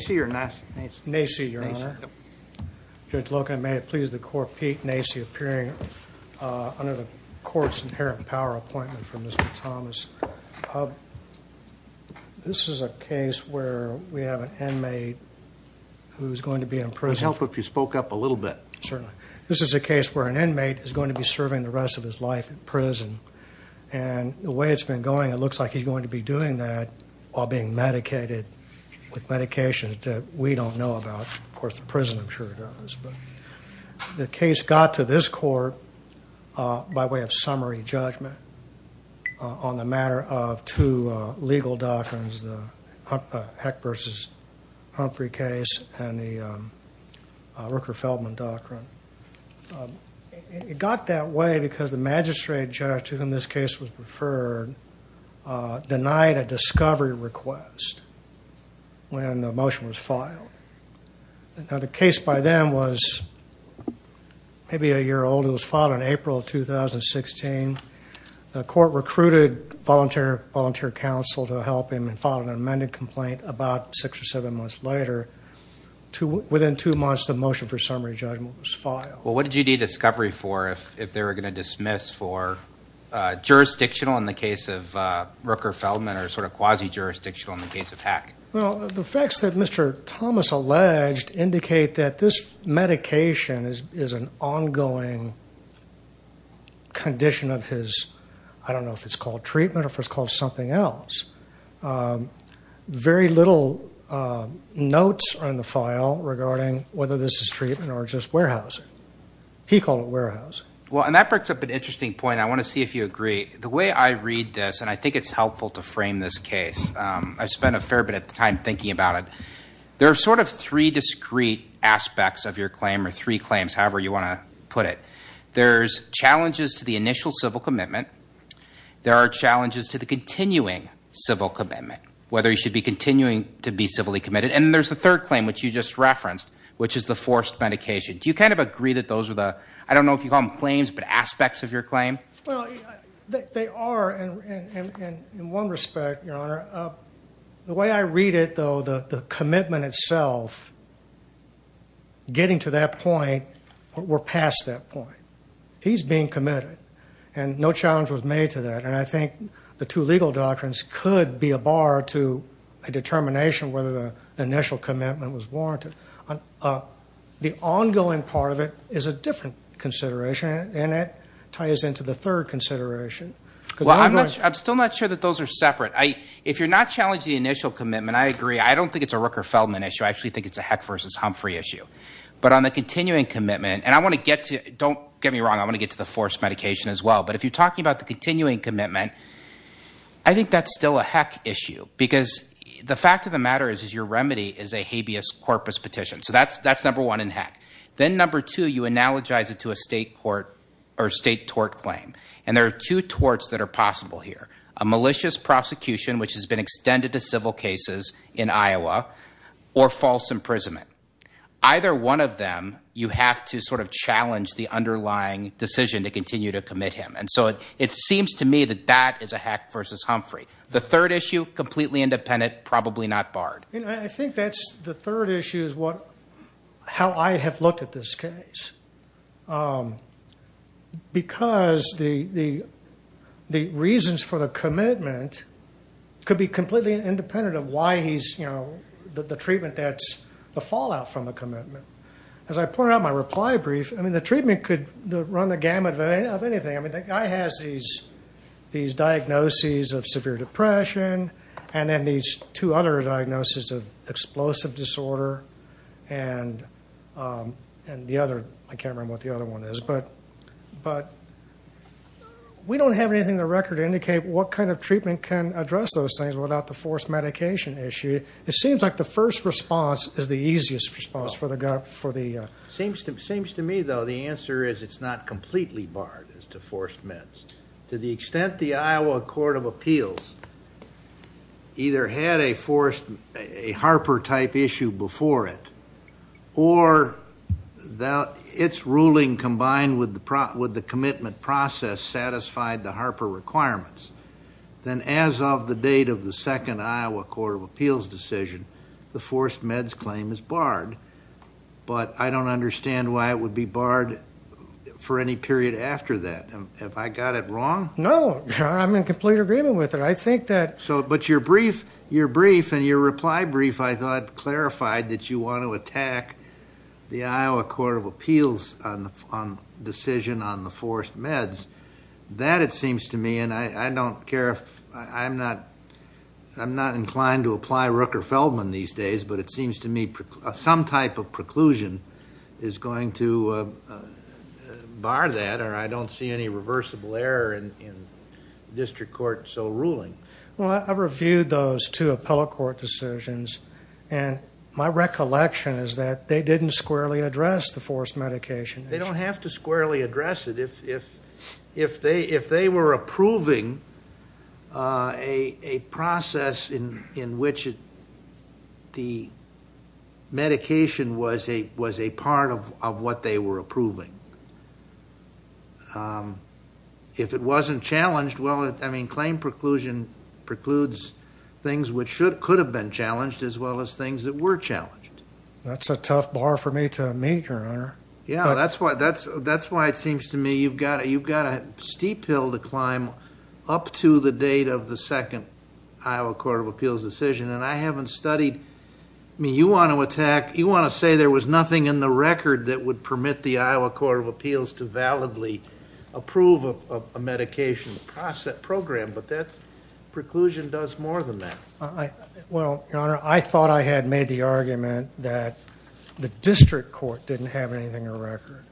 Nacy or Nassie? Nacy, your honor. Judge Loca, may it please the court, Pete Nacy appearing under the court's inherent power appointment for Mr. Thomas. This is a case where we have an inmate who's going to be in prison. It would help if you spoke up a little bit. Certainly. This is a case where an inmate is going to be serving the rest of his life in prison and the way it's been going it looks like he's going to be doing that while being medicated with medications that we don't know about. Of course the prison I'm sure does. But the case got to this court by way of summary judgment on the matter of two legal doctrines. The Heck v. Humphrey case and the Rooker-Feldman doctrine. It got that way because the magistrate judge to whom this case was referred denied a discovery request when the motion was filed. Now the case by then was maybe a year old. It was filed in April of 2016. The court recruited volunteer counsel to help him and filed an amended complaint about six or seven months later. Within two months the motion for summary judgment was filed. Well what did you need discovery for if they were going to dismiss for jurisdictional in the case of Rooker-Feldman or sort of quasi-jurisdictional in the case of Heck? Well the facts that Mr. Thomas alleged indicate that this medication is an ongoing condition of his, I don't know if it's called treatment or if it's called something else. Very little notes are in the file regarding whether this is treatment or just warehousing. He called it warehousing. Well and that breaks up an interesting point I want to see if you agree. The way I read this and I think it's helpful to frame this case. I spent a fair bit of time thinking about it. There are sort of three discrete aspects of your claim or three claims however you want to put it. There's challenges to the initial civil commitment. There are challenges to the continuing civil commitment. Whether you should be continuing to be civilly committed. And there's the third claim which you just referenced which is the forced medication. Do you kind of agree that those are the, I don't know if you call them claims, but aspects of your claim? Well they are in one respect your honor. The way I read it though the commitment itself, getting to that point, we're past that point. He's being committed and no legal doctrines could be a bar to a determination whether the initial commitment was warranted. The ongoing part of it is a different consideration and it ties into the third consideration. Well I'm still not sure that those are separate. If you're not challenging the initial commitment, I agree. I don't think it's a Rooker-Feldman issue. I actually think it's a Heck versus Humphrey issue. But on the continuing commitment and I want to get to, don't get me wrong, I want to get to the forced medication as well. But if you're talking about the continuing commitment, I think that's still a Heck issue. Because the fact of the matter is your remedy is a habeas corpus petition. So that's number one in Heck. Then number two, you analogize it to a state court or state tort claim. And there are two torts that are possible here. A malicious prosecution, which has been extended to civil cases in Iowa, or false imprisonment. Either one of them, you have to sort of challenge the underlying decision to continue to commit him. And so it seems to me that that is a Heck versus Humphrey. The third issue, completely independent, probably not barred. I think that's the third issue is how I have looked at this case. Because the reasons for the commitment could be completely independent of why the treatment that's the fallout from the commitment. As I pointed out in my reply brief, the treatment could run the gamut of anything. I mean, the guy has these diagnoses of severe depression, and then these two other diagnoses of explosive disorder, and the other. I can't remember what the other one is. But we don't have anything in the record to indicate what kind of treatment can address those things without the forced medication issue. It seems like the first response is the easiest response. Seems to me, though, the answer is it's not completely barred as to forced meds. To the extent the Iowa Court of Appeals either had a Harper-type issue before it, or its ruling combined with the commitment process satisfied the Harper requirements, then as of the date of the second Iowa Court of Appeals decision, the forced meds claim is barred. But I don't understand why it would be barred for any period after that. Have I got it wrong? No, I'm in complete agreement with it. I think that... So, but your brief and your reply brief, I thought, clarified that you want to attack the Iowa Court of Appeals on decision on the forced meds. That, it seems to me, and I don't care if... I'm not inclined to apply Rooker-Feldman these days, but it seems to me some type of preclusion is going to bar that, or I don't see any reversible error in district court so ruling. Well, I reviewed those two appellate court decisions, and my recollection is that they didn't squarely address the forced medication issue. They don't have to squarely address it. If they were approving a process in which the medication was a part of what they were approving, if it wasn't challenged, well, I mean, claim preclusion precludes things which could have been challenged as well as things that were challenged. That's a tough bar for me to meet, Your Honor. Yeah, that's why it seems to me you've got a steep hill to climb up to the date of the second Iowa Court of Appeals decision, and I haven't studied... I mean, you want to attack, you want to say there was nothing in the record that would permit the Iowa Court of Appeals to validly approve a medication program, but preclusion does more than that. Well, Your Honor, I thought I had made the argument that the district court didn't have anything in the record.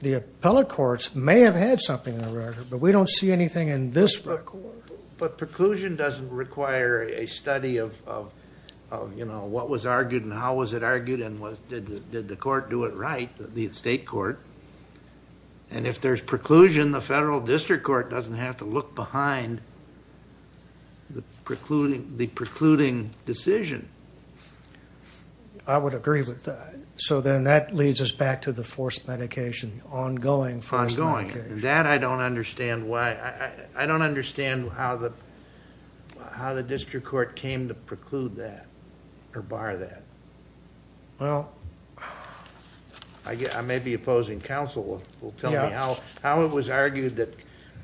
The appellate courts may have had something in the record, but we don't see anything in this record. But preclusion doesn't require a study of what was argued and how was it argued, and did the court do it right, the state court? And if there's preclusion, the federal district court doesn't have to look behind the precluding decision. I would agree with that. So then that leads us back to the forced medication, ongoing. Ongoing. That I don't understand why... I don't understand how the district court came to preclude that or bar that. Well, I may be opposing counsel will tell me how it was argued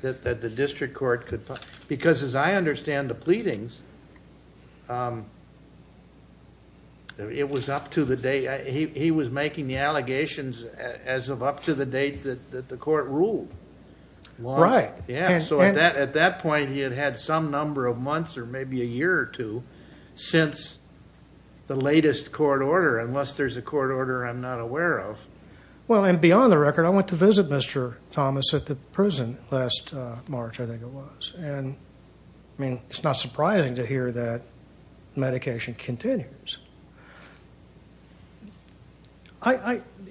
that the district court could... Because as I understand the pleadings, it was up to the day... He was making the allegations as of up to the date that the court ruled. Right. Yeah. So at that point, he had had some number of months or maybe a year or two since the latest court order, unless there's a court order I'm not aware of. Well, and beyond the record, I went to visit Mr. Thomas at the prison last March, I think it was. And I mean, it's not surprising to hear that medication continues.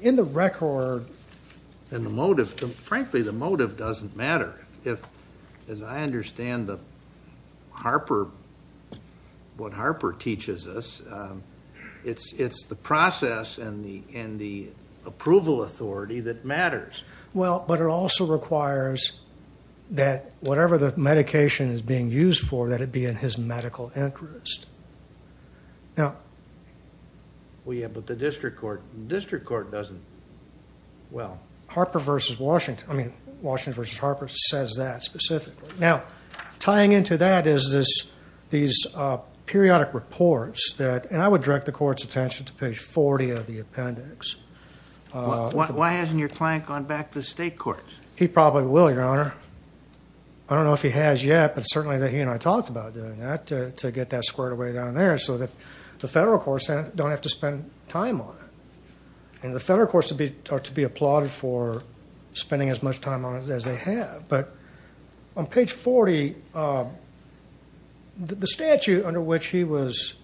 In the record... And the motive... Frankly, the motive doesn't matter. As I understand what Harper teaches us, it's the process and the approval authority that matters. Well, but it also requires that whatever the medication is being used for, that it be in his medical interest. Now... Well, yeah, but the district court doesn't... Harper versus Washington... I mean, Washington versus Harper says that specifically. Now, tying into that is these periodic reports that... And I would direct the court's attention to page 40 of the appendix. Why hasn't your client gone back to the state courts? He probably will, Your Honor. I don't know if he has yet, but certainly that he and I talked about doing that to get that squared away down there so that the federal courts don't have to spend time on it. And the federal courts are to be applauded for spending as much time on it as they have. But on page 40, the statute under which he was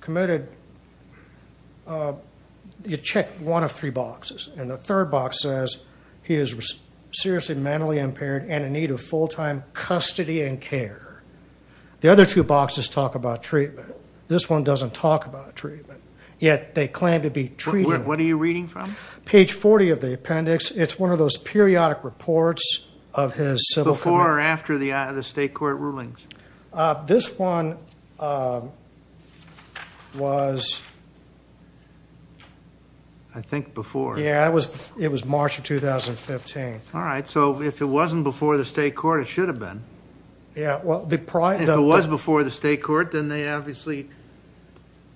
committed, you check one of three boxes. And the third box says he is seriously mentally impaired and in need of full-time custody and they claim to be treating him. What are you reading from? Page 40 of the appendix. It's one of those periodic reports of his civil... Before or after the state court rulings? This one was... I think before. Yeah, it was March of 2015. All right. So if it wasn't before the state court, it should have been. Yeah, well... If it was before the state court, then they obviously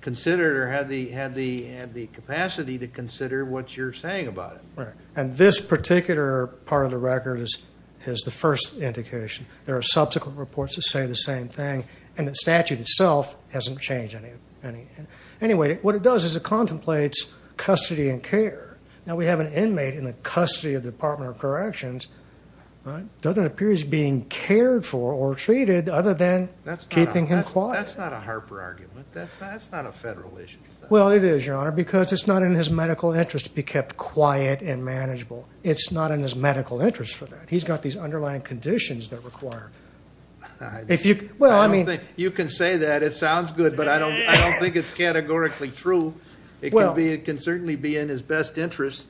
considered or had the capacity to consider what you're saying about it. Right. And this particular part of the record is the first indication. There are subsequent reports that say the same thing. And the statute itself hasn't changed any. Anyway, what it does is it contemplates custody and care. Now, we have an inmate in the custody of the Department of Corrections, doesn't appear he's being cared for or treated other than keeping him quiet. That's not a Harper argument. That's not a federal issue. Well, it is, Your Honor, because it's not in his medical interest to be kept quiet and manageable. It's not in his medical interest for that. He's got these underlying conditions that require... I don't think you can say that. It sounds good, but I don't think it's categorically true. It can certainly be in his best interest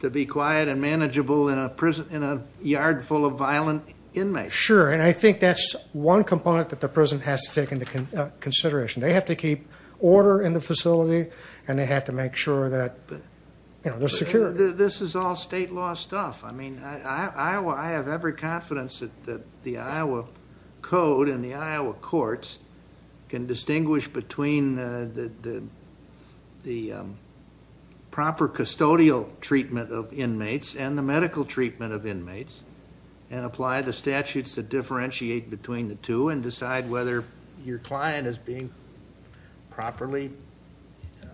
to be quiet and manageable in a yard full of violent inmates. Sure. And I think that's one component that the prison has to take into consideration. They have to keep order in the facility, and they have to make sure that they're secure. This is all state law stuff. I mean, I have every confidence that the Iowa Code and the Iowa courts can distinguish between the proper custodial treatment of inmates and the medical treatment of inmates, and apply the statutes that differentiate between the two and decide whether your client is being properly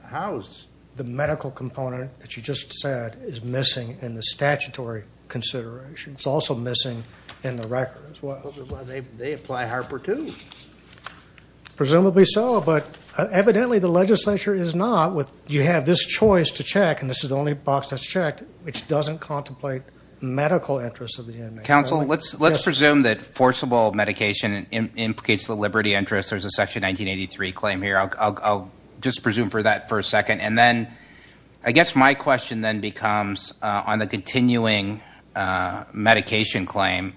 housed. The medical component that you just said is missing in the statutory consideration. It's also missing in the record as well. Well, they apply Harper too. Presumably so, but evidently the legislature is not. You have this choice to check, and this is the only box that's checked, which doesn't contemplate medical interests of the inmates. Counsel, let's presume that forcible medication implicates the liberty interest. There's a section 1983 claim here. I'll just presume for that for a second. And then I guess my question then becomes on the continuing medication claim,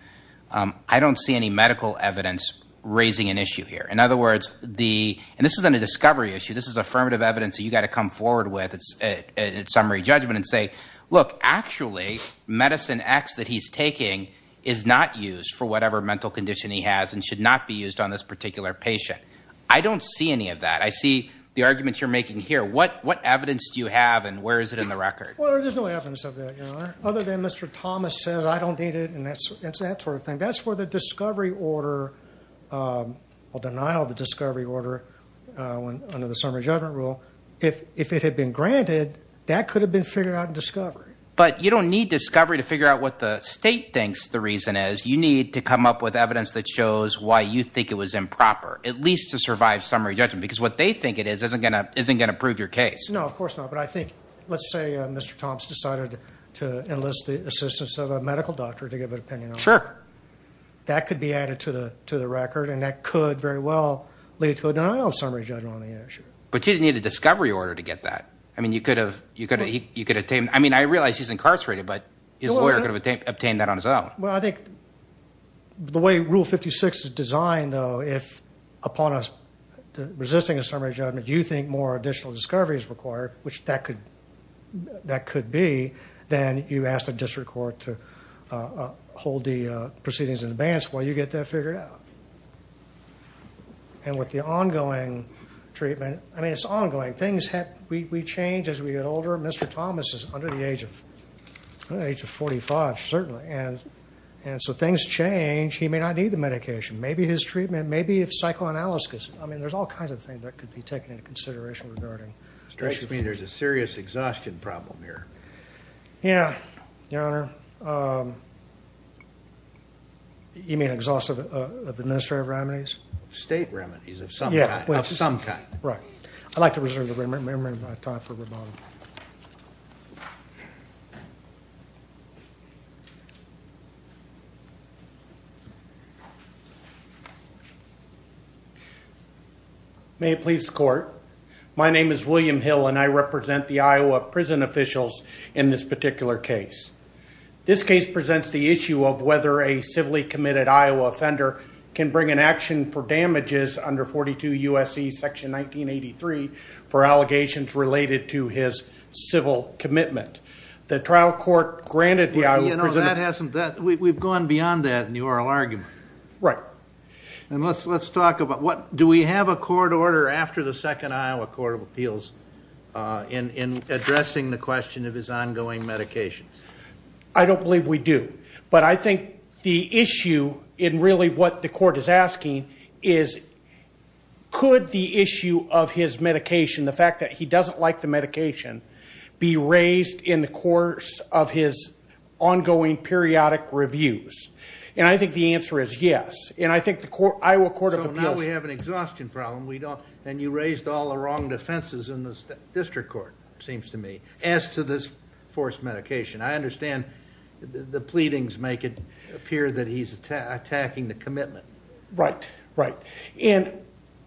I don't see any medical evidence raising an issue here. In other words, and this isn't a discovery issue, this is affirmative evidence that you've got to come forward with at summary judgment and say, look, actually, medicine X that he's taking is not used for whatever mental condition he has and should not be used on this particular patient. I don't see any of that. I see the arguments you're making here. What evidence do you have, and where is it in the record? Well, there's no evidence of that. Other than Mr. Thomas said, I don't need it, and it's that sort of thing. That's where the discovery order, or denial of the discovery order under the summary judgment rule, if it had been granted, that could have been figured out in discovery. But you don't need discovery to figure out what the state thinks the reason is. You need to come up with evidence that shows why you think it was improper, at least to survive summary judgment, because what they think it is isn't going to prove your case. No, of course not. But I think, let's say Mr. Thomas decided to enlist the assistance of a medical doctor to give an opinion. Sure. That could be added to the record, and that could very well lead to a denial of summary judgment on the issue. But you didn't need a discovery order to get that. I mean, I realize he's incarcerated, but his lawyer could have obtained that on his own. Well, I think the way Rule 56 is designed, though, if upon resisting a summary judgment, you think more additional discovery is required, which that could be, then you ask the district court to hold the proceedings in advance while you get that figured out. And with the ongoing treatment, I mean, it's ongoing. Things change as we get older. Mr. Thomas is under the age of 45, certainly, and so things change. He may not need the medication. Maybe his treatment, maybe if psychoanalysis, I mean, there's all kinds of things that could be taken into consideration regarding his treatment. You mean there's a serious exhaustion problem here? Yeah, Your Honor. You mean exhaustive of administrative remedies? State remedies of some kind. Right. I'd like to reserve the remaining time for rebuttal. May it please the court. My name is William Hill and I represent the Iowa prison officials in this particular case. This case presents the issue of whether a civilly committed Iowa offender can bring an action for damages under 42 U.S.C. section 1983 for allegations related to his civil commitment. The trial court granted the Iowa prison... You know, that hasn't... We've gone beyond that in the oral argument. Right. And let's talk about what... Do we have a court order after the second Iowa Court of Appeals in addressing the question of his ongoing medication? I don't believe we do. But I think the issue in really what the court is asking is could the like the medication be raised in the course of his ongoing periodic reviews? And I think the answer is yes. And I think the Iowa Court of Appeals... So now we have an exhaustion problem. And you raised all the wrong defenses in the district court, it seems to me, as to this forced medication. I understand the pleadings make it appear that he's attacking the commitment. Right. Right.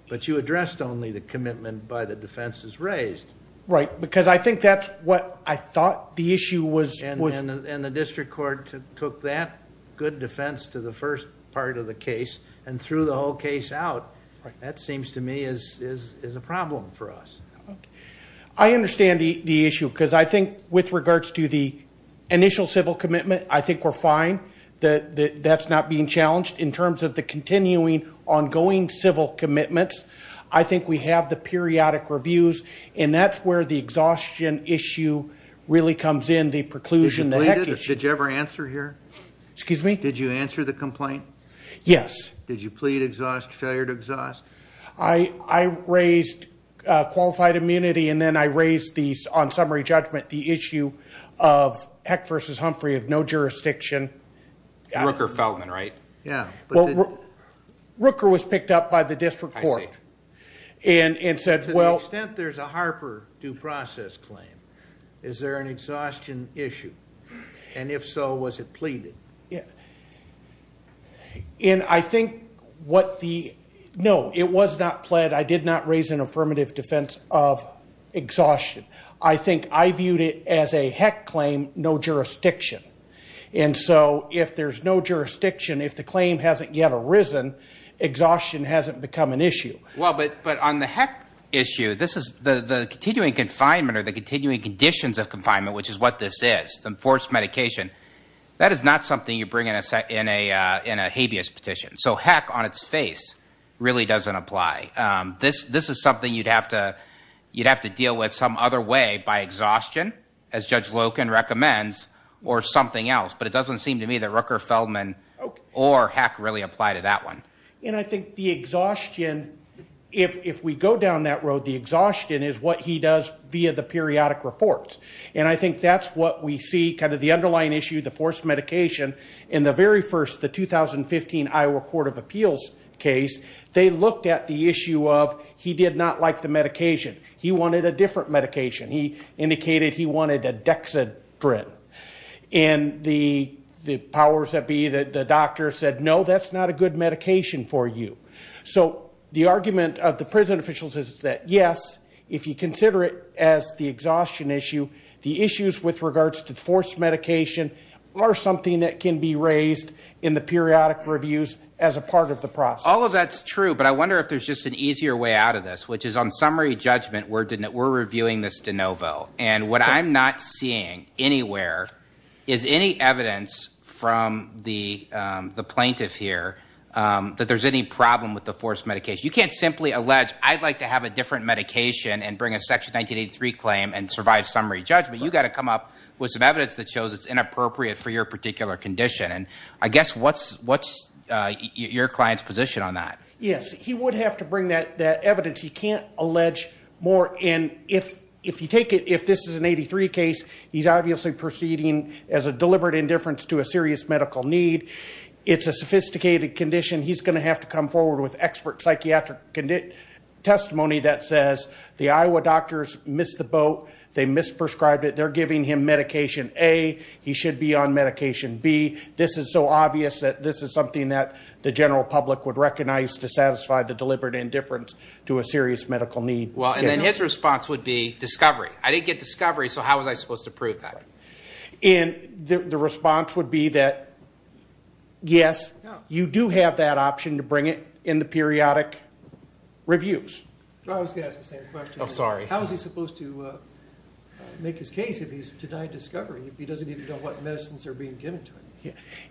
But you addressed only the commitment by the defenses raised. Right. Because I think that's what I thought the issue was... And the district court took that good defense to the first part of the case and threw the whole case out. That seems to me is a problem for us. I understand the issue because I think with regards to the initial civil commitment, I think we're fine that that's not being challenged. In terms of the continuing ongoing civil commitments, I think we have the periodic reviews. And that's where the exhaustion issue really comes in, the preclusion, the heck issue. Did you ever answer here? Excuse me? Did you answer the complaint? Yes. Did you plead exhaust, failure to exhaust? I raised qualified immunity. And then I raised these on summary judgment, the issue of Heck versus Humphrey of no jurisdiction. Rooker-Feldman, right? Yeah. Rooker was picked up by the district court and said, well... To the extent there's a Harper due process claim, is there an exhaustion issue? And if so, was it pleaded? And I think what the... No, it was not pled. I did not raise an affirmative defense of Heck claim, no jurisdiction. And so if there's no jurisdiction, if the claim hasn't yet arisen, exhaustion hasn't become an issue. Well, but on the Heck issue, this is the continuing confinement or the continuing conditions of confinement, which is what this is, the enforced medication. That is not something you bring in a habeas petition. So Heck on its face really doesn't apply. This is something you'd have to deal with some other way by exhaustion, as Judge Loken recommends, or something else. But it doesn't seem to me that Rooker-Feldman or Heck really apply to that one. And I think the exhaustion, if we go down that road, the exhaustion is what he does via the periodic reports. And I think that's what we see kind of the underlying issue, the forced medication. In the very first, the 2015 Iowa Court of Appeals case, they looked at the issue of he did not like the medication. He wanted a different medication. He indicated he wanted a dexedrine. And the powers that be, the doctor said, no, that's not a good medication for you. So the argument of the prison officials is that, yes, if you consider it as the exhaustion issue, the issues with regards to forced medication are something that can be raised in the periodic reviews as a part of the process. All of that's true, but I wonder if there's just an easier way out of this, which is on summary judgment, we're reviewing this de novo. And what I'm not seeing anywhere is any evidence from the plaintiff here that there's any problem with the forced medication. You can't simply allege, I'd like to have a different medication and bring a Section 1983 claim and survive summary judgment. You've got to come up with some evidence that shows it's inappropriate for your particular condition. And I guess what's your client's position on that? Yes, he would have to bring that evidence. He can't allege more. And if you take it, if this is an 83 case, he's obviously proceeding as a deliberate indifference to a serious medical need. It's a sophisticated condition. He's going to have to come forward with expert psychiatric testimony that says the Iowa doctors missed the boat. They misprescribed it. They're giving him medication A. He should be on medication B. This is so obvious that this is something that the general public would recognize to satisfy the deliberate indifference to a serious medical need. Well, and then his response would be, discovery. I didn't get discovery, so how was I supposed to prove that? And the response would be that, yes, you do have that option to bring it in the periodic reviews. I was going to ask the same question. Oh, sorry. How is he supposed to make his case if he's denied discovery, if he doesn't even know what medicines are being given to him?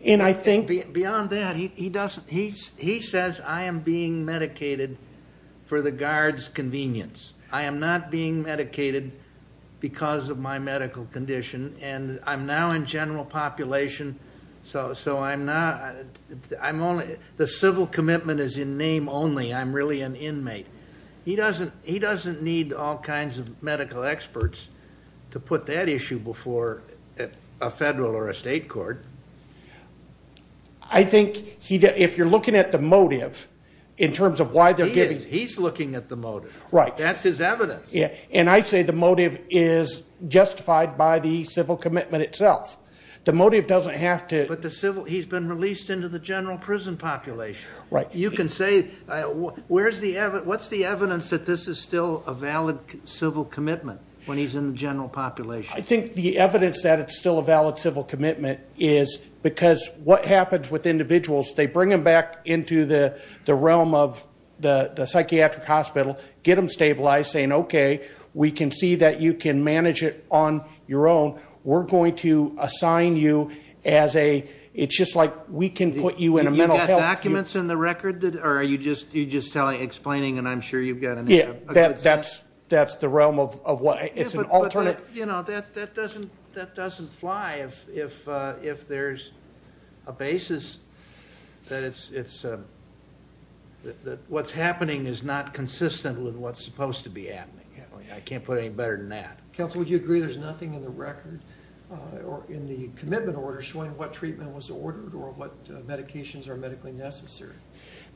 And I think beyond that, he says, I am being medicated for the guard's convenience. I am not being medicated because of my medical condition. And I'm now in general population, so the civil commitment is in name only. I'm really an inmate. He doesn't need all kinds of medical experts to put that issue before a federal or a state court. I think if you're looking at the motive in terms of why they're giving- He's looking at the motive. That's his evidence. And I say the motive is justified by the civil commitment itself. The motive doesn't have to- He's been released into the general prison population. Right. You can say, what's the evidence that this is still a valid civil commitment when he's in the general population? I think the evidence that it's still a valid civil commitment is because what happens with individuals, they bring them back into the realm of the psychiatric hospital, get them stabilized, saying, okay, we can see that you can manage it on your own. We're going to assign you as a- It's just like we can put you in a mental health- Do you have documents in the record? Or are you just explaining, and I'm sure you've got- Yeah, that's the realm of what- It's an alternate- You know, that doesn't fly if there's a basis that what's happening is not consistent with what's supposed to be happening. I can't put any better than that. Counsel, would you agree there's nothing in the record or in the commitment order showing what treatment was ordered or what medications are medically necessary?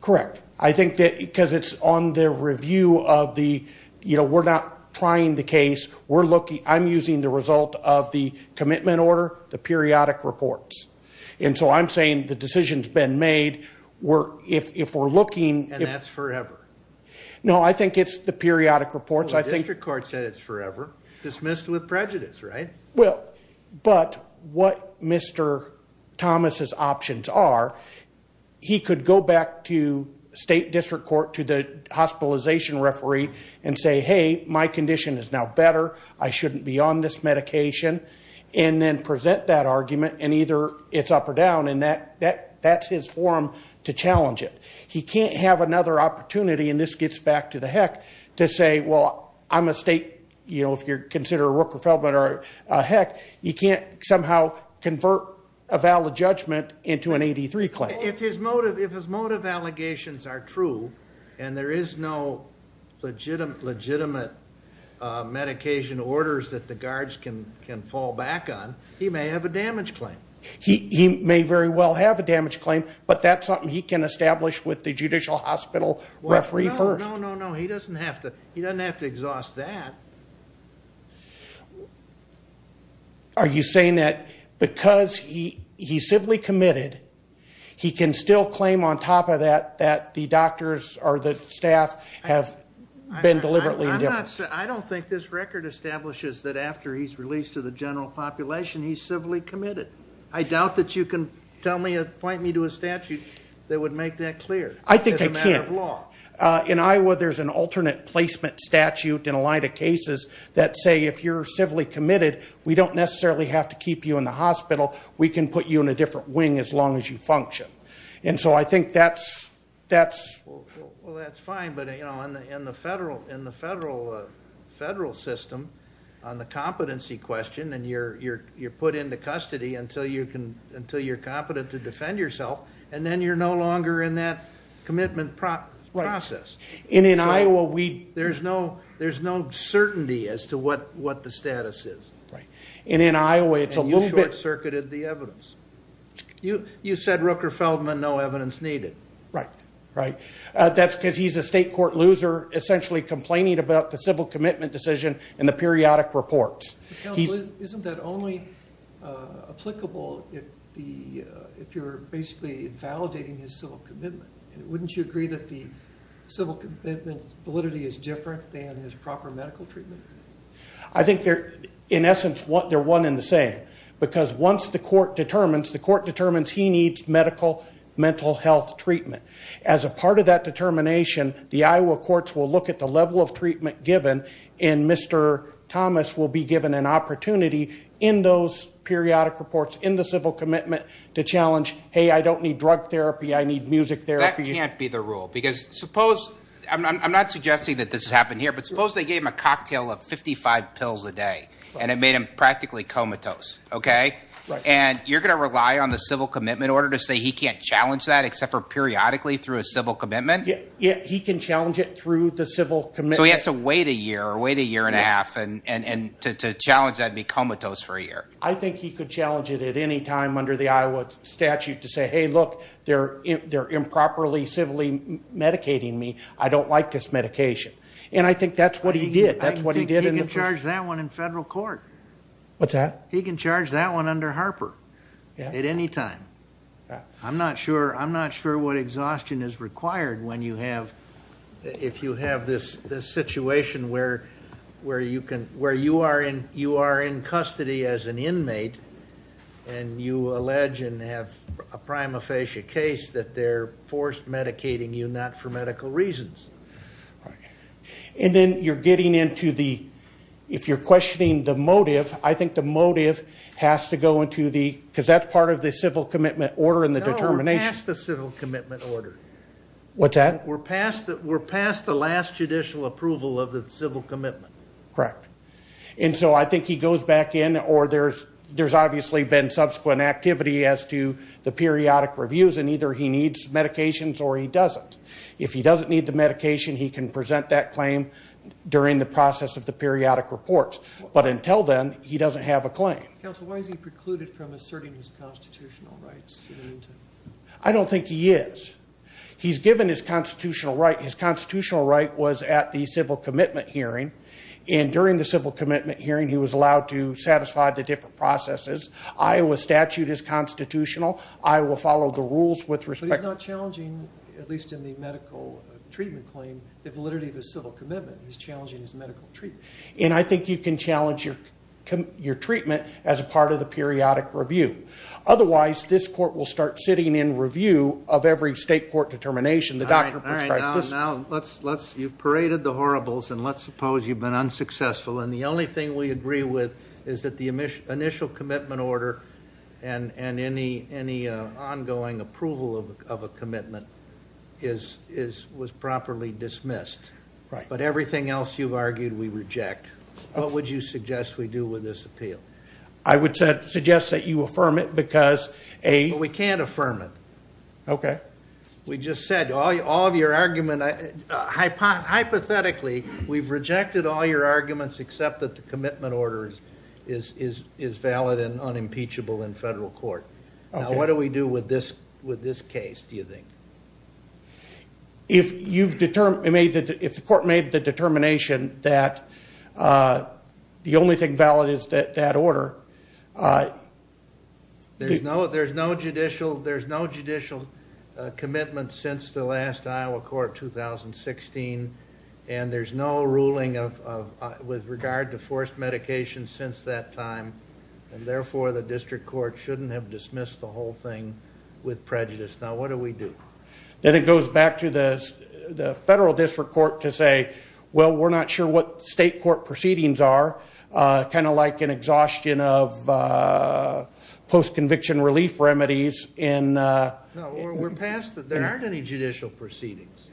Correct. I think that because it's on the review of the- You know, we're not trying the case. I'm using the result of the commitment order, the periodic reports. And so I'm saying the decision's been made. If we're looking- And that's forever. No, I think it's the periodic reports. I think- Well, the district court said it's forever. Dismissed with prejudice, right? Well, but what Mr. Thomas's options are, he could go back to state district court, to the hospitalization referee, and say, hey, my condition is now better. I shouldn't be on this medication. And then present that argument, and either it's up or down. And that's his forum to challenge it. He can't have another opportunity, and this gets back to the heck, to say, well, I'm a state- You know, if you're considered a Rook or Feldman or a Heck, you can't somehow convert a valid judgment into an 83 claim. If his motive allegations are true, and there is no legitimate medication orders that the guards can fall back on, he may have a damage claim. He may very well have a damage claim, but that's something he can establish with the judicial hospital referee first. No, no, no. He doesn't have to exhaust that. Are you saying that because he's civilly committed, he can still claim on top of that, that the doctors or the staff have been deliberately indifferent? I don't think this record establishes that after he's released to the general population, he's civilly committed. I doubt that you can tell me or point me to a statute that would make that clear. It's a matter of law. I think it can. In Iowa, there's an alternate placement statute in a line of cases that say, if you're civilly committed, we don't necessarily have to keep you in the hospital. We can put you in a different wing as long as you function. And so I think that's- Well, that's fine. But in the federal system, on the competency question, you're put into custody until you're competent to defend yourself, and then you're no longer in that commitment process. And in Iowa, there's no certainty as to what the status is. And in Iowa, it's a little bit- And you short-circuited the evidence. You said Rooker Feldman, no evidence needed. Right, right. That's because he's a state court loser, essentially complaining about the civil commitment decision in the periodic reports. Isn't that only applicable if you're basically invalidating his civil commitment? Wouldn't you agree that the civil commitment validity is different than his proper medical treatment? I think they're, in essence, they're one and the same. Because once the court determines, the court determines he needs medical mental health treatment. As a part of that determination, the Iowa courts will look at the level of treatment given, and Mr. Thomas will be given an opportunity in those periodic reports, in the civil commitment, to challenge, hey, I don't need drug therapy, I need music therapy. That can't be the rule. Because suppose, I'm not suggesting that this has happened here, but suppose they gave him a cocktail of 55 pills a day, and it made him practically comatose, okay? And you're going to rely on the civil commitment order to say he can't challenge that except for periodically through a civil commitment? Yeah, he can challenge it through the So he has to wait a year, or wait a year and a half, and to challenge that and be comatose for a year. I think he could challenge it at any time under the Iowa statute to say, hey, look, they're improperly civilly medicating me, I don't like this medication. And I think that's what he did. I think he can charge that one in federal court. What's that? He can charge that one under Harper at any time. I'm not sure what exhaustion is required when you have, if you have this situation where you are in custody as an inmate, and you allege and have a prima facie case that they're forced medicating you not for medical reasons. And then you're getting into the, if you're questioning the motive, I think the motive has to go into the, because that's part of the civil commitment order and the determination. No, past the civil commitment order. What's that? We're past the last judicial approval of the civil commitment. Correct. And so I think he goes back in, or there's obviously been subsequent activity as to the periodic reviews, and either he needs medications or he doesn't. If he doesn't need the medication, he can present that claim during the process of the periodic reports. But until then, he doesn't have a claim. Counsel, why is he precluded from asserting his constitutional rights? I don't think he is. He's given his constitutional right. His constitutional right was at the civil commitment hearing. And during the civil commitment hearing, he was allowed to satisfy the different processes. Iowa statute is constitutional. I will follow the rules with respect. But he's not challenging, at least in the medical treatment claim, the validity of his civil commitment. He's challenging his medical treatment. And I think you can challenge your treatment as a part of the periodic review. Otherwise, this court will start sitting in review of every state court determination. All right. Now, you've paraded the horribles, and let's suppose you've been unsuccessful. And the only thing we agree with is that the initial commitment order and any ongoing approval of a commitment was properly dismissed. Right. But everything else you've argued, we reject. What would you suggest we do with this appeal? I would suggest that you affirm it, because a- We can't affirm it. Okay. We just said, all of your argument, hypothetically, we've rejected all your arguments except that the commitment order is valid and unimpeachable in federal court. Now, what do we do with this case, do you think? If the court made the determination that the only thing valid is that order- There's no judicial commitment since the last Iowa court 2016. And there's no ruling with regard to forced medication since that time. And therefore, the district court shouldn't have dismissed the whole thing with prejudice. Now, what do we do? Then it goes back to the federal district court to say, well, we're not sure what state court proceedings are, kind of like an exhaustion of post-conviction relief remedies. No, we're past that. There aren't any judicial proceedings.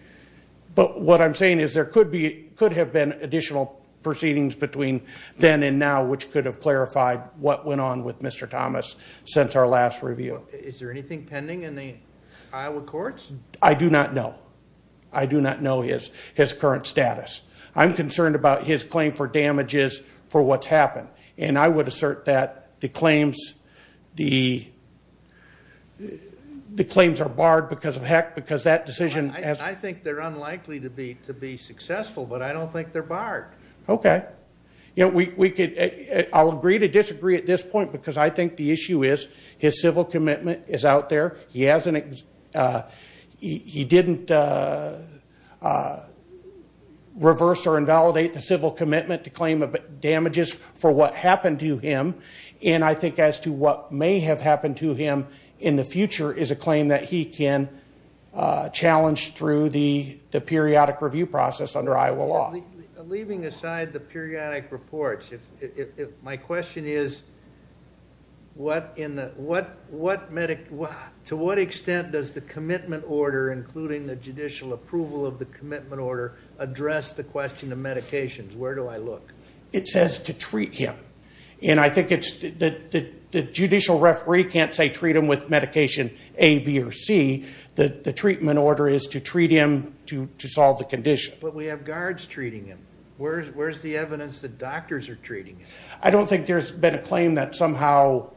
But what I'm saying is there could have been additional proceedings between then and now, which could have clarified what went on with Mr. Thomas since our last review. Is there anything pending in the Iowa courts? I do not know. I do not know his current status. I'm concerned about his claim for damages for what's happened. And I would assert that the claims are barred because of heck, because that decision- I think they're unlikely to be successful, but I don't think they're barred. Okay. I'll agree to disagree at this point because I think the issue is his civil commitment is out there. He didn't reverse or invalidate the civil commitment to claim damages for what happened to him. And I think as to what may have happened to him in the future is a claim that he can challenge through the periodic review process under Iowa law. Leaving aside the periodic reports, my question is, to what extent does the commitment order, including the judicial approval of the commitment order, address the question of medications? Where do I look? It says to treat him. And I think the judicial referee can't say treat him with medication A, B, or C. The treatment order is to treat him to solve the condition. But we have guards treating him. Where's the evidence that doctors are treating him? I don't think there's been a claim that somehow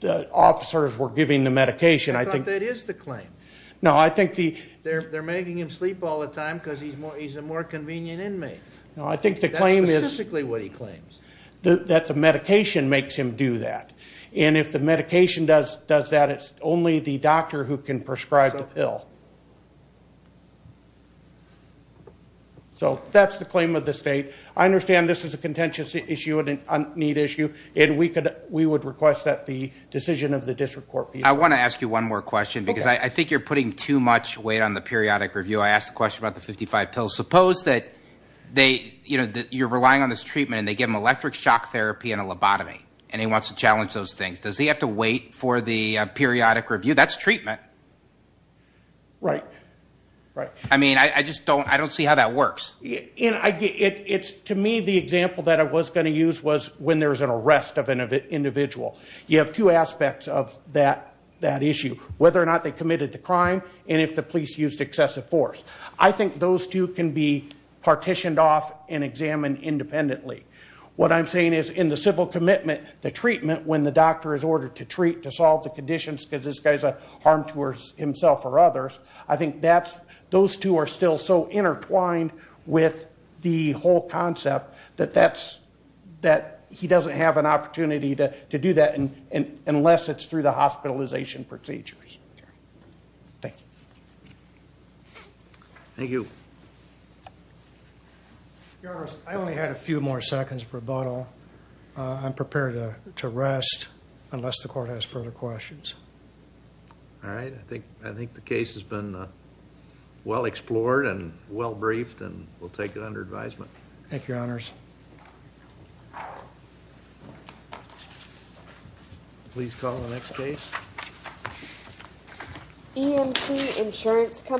the officers were giving the medication. I thought that is the claim. No, I think the- They're making him sleep all the time because he's a more convenient inmate. No, I think the claim is- That's specifically what he claims. That the medication makes him do that. So that's the claim of the state. I understand this is a contentious issue and a neat issue, and we would request that the decision of the district court be- I want to ask you one more question because I think you're putting too much weight on the periodic review. I asked the question about the 55 pills. Suppose that you're relying on this treatment and they give him electric shock therapy and a lobotomy, and he wants to challenge those things. Does he have to wait for the periodic review? That's treatment. Right. Right. I just don't see how that works. To me, the example that I was going to use was when there's an arrest of an individual. You have two aspects of that issue, whether or not they committed the crime and if the police used excessive force. I think those two can be partitioned off and examined independently. What I'm saying is in the civil commitment, the treatment, when the doctor is ordered to treat, to solve the conditions because this guy's a harm to himself or others, I think those two are still so intertwined with the whole concept that he doesn't have an opportunity to do that unless it's through the hospitalization procedures. Thank you. Thank you. Your Honor, I only had a few more seconds of rebuttal. I'm prepared to rest unless the court has further questions. All right. I think the case has been well explored and well briefed, and we'll take it under advisement. Thank you, Your Honors. Please call the next case. EMT Insurance Company.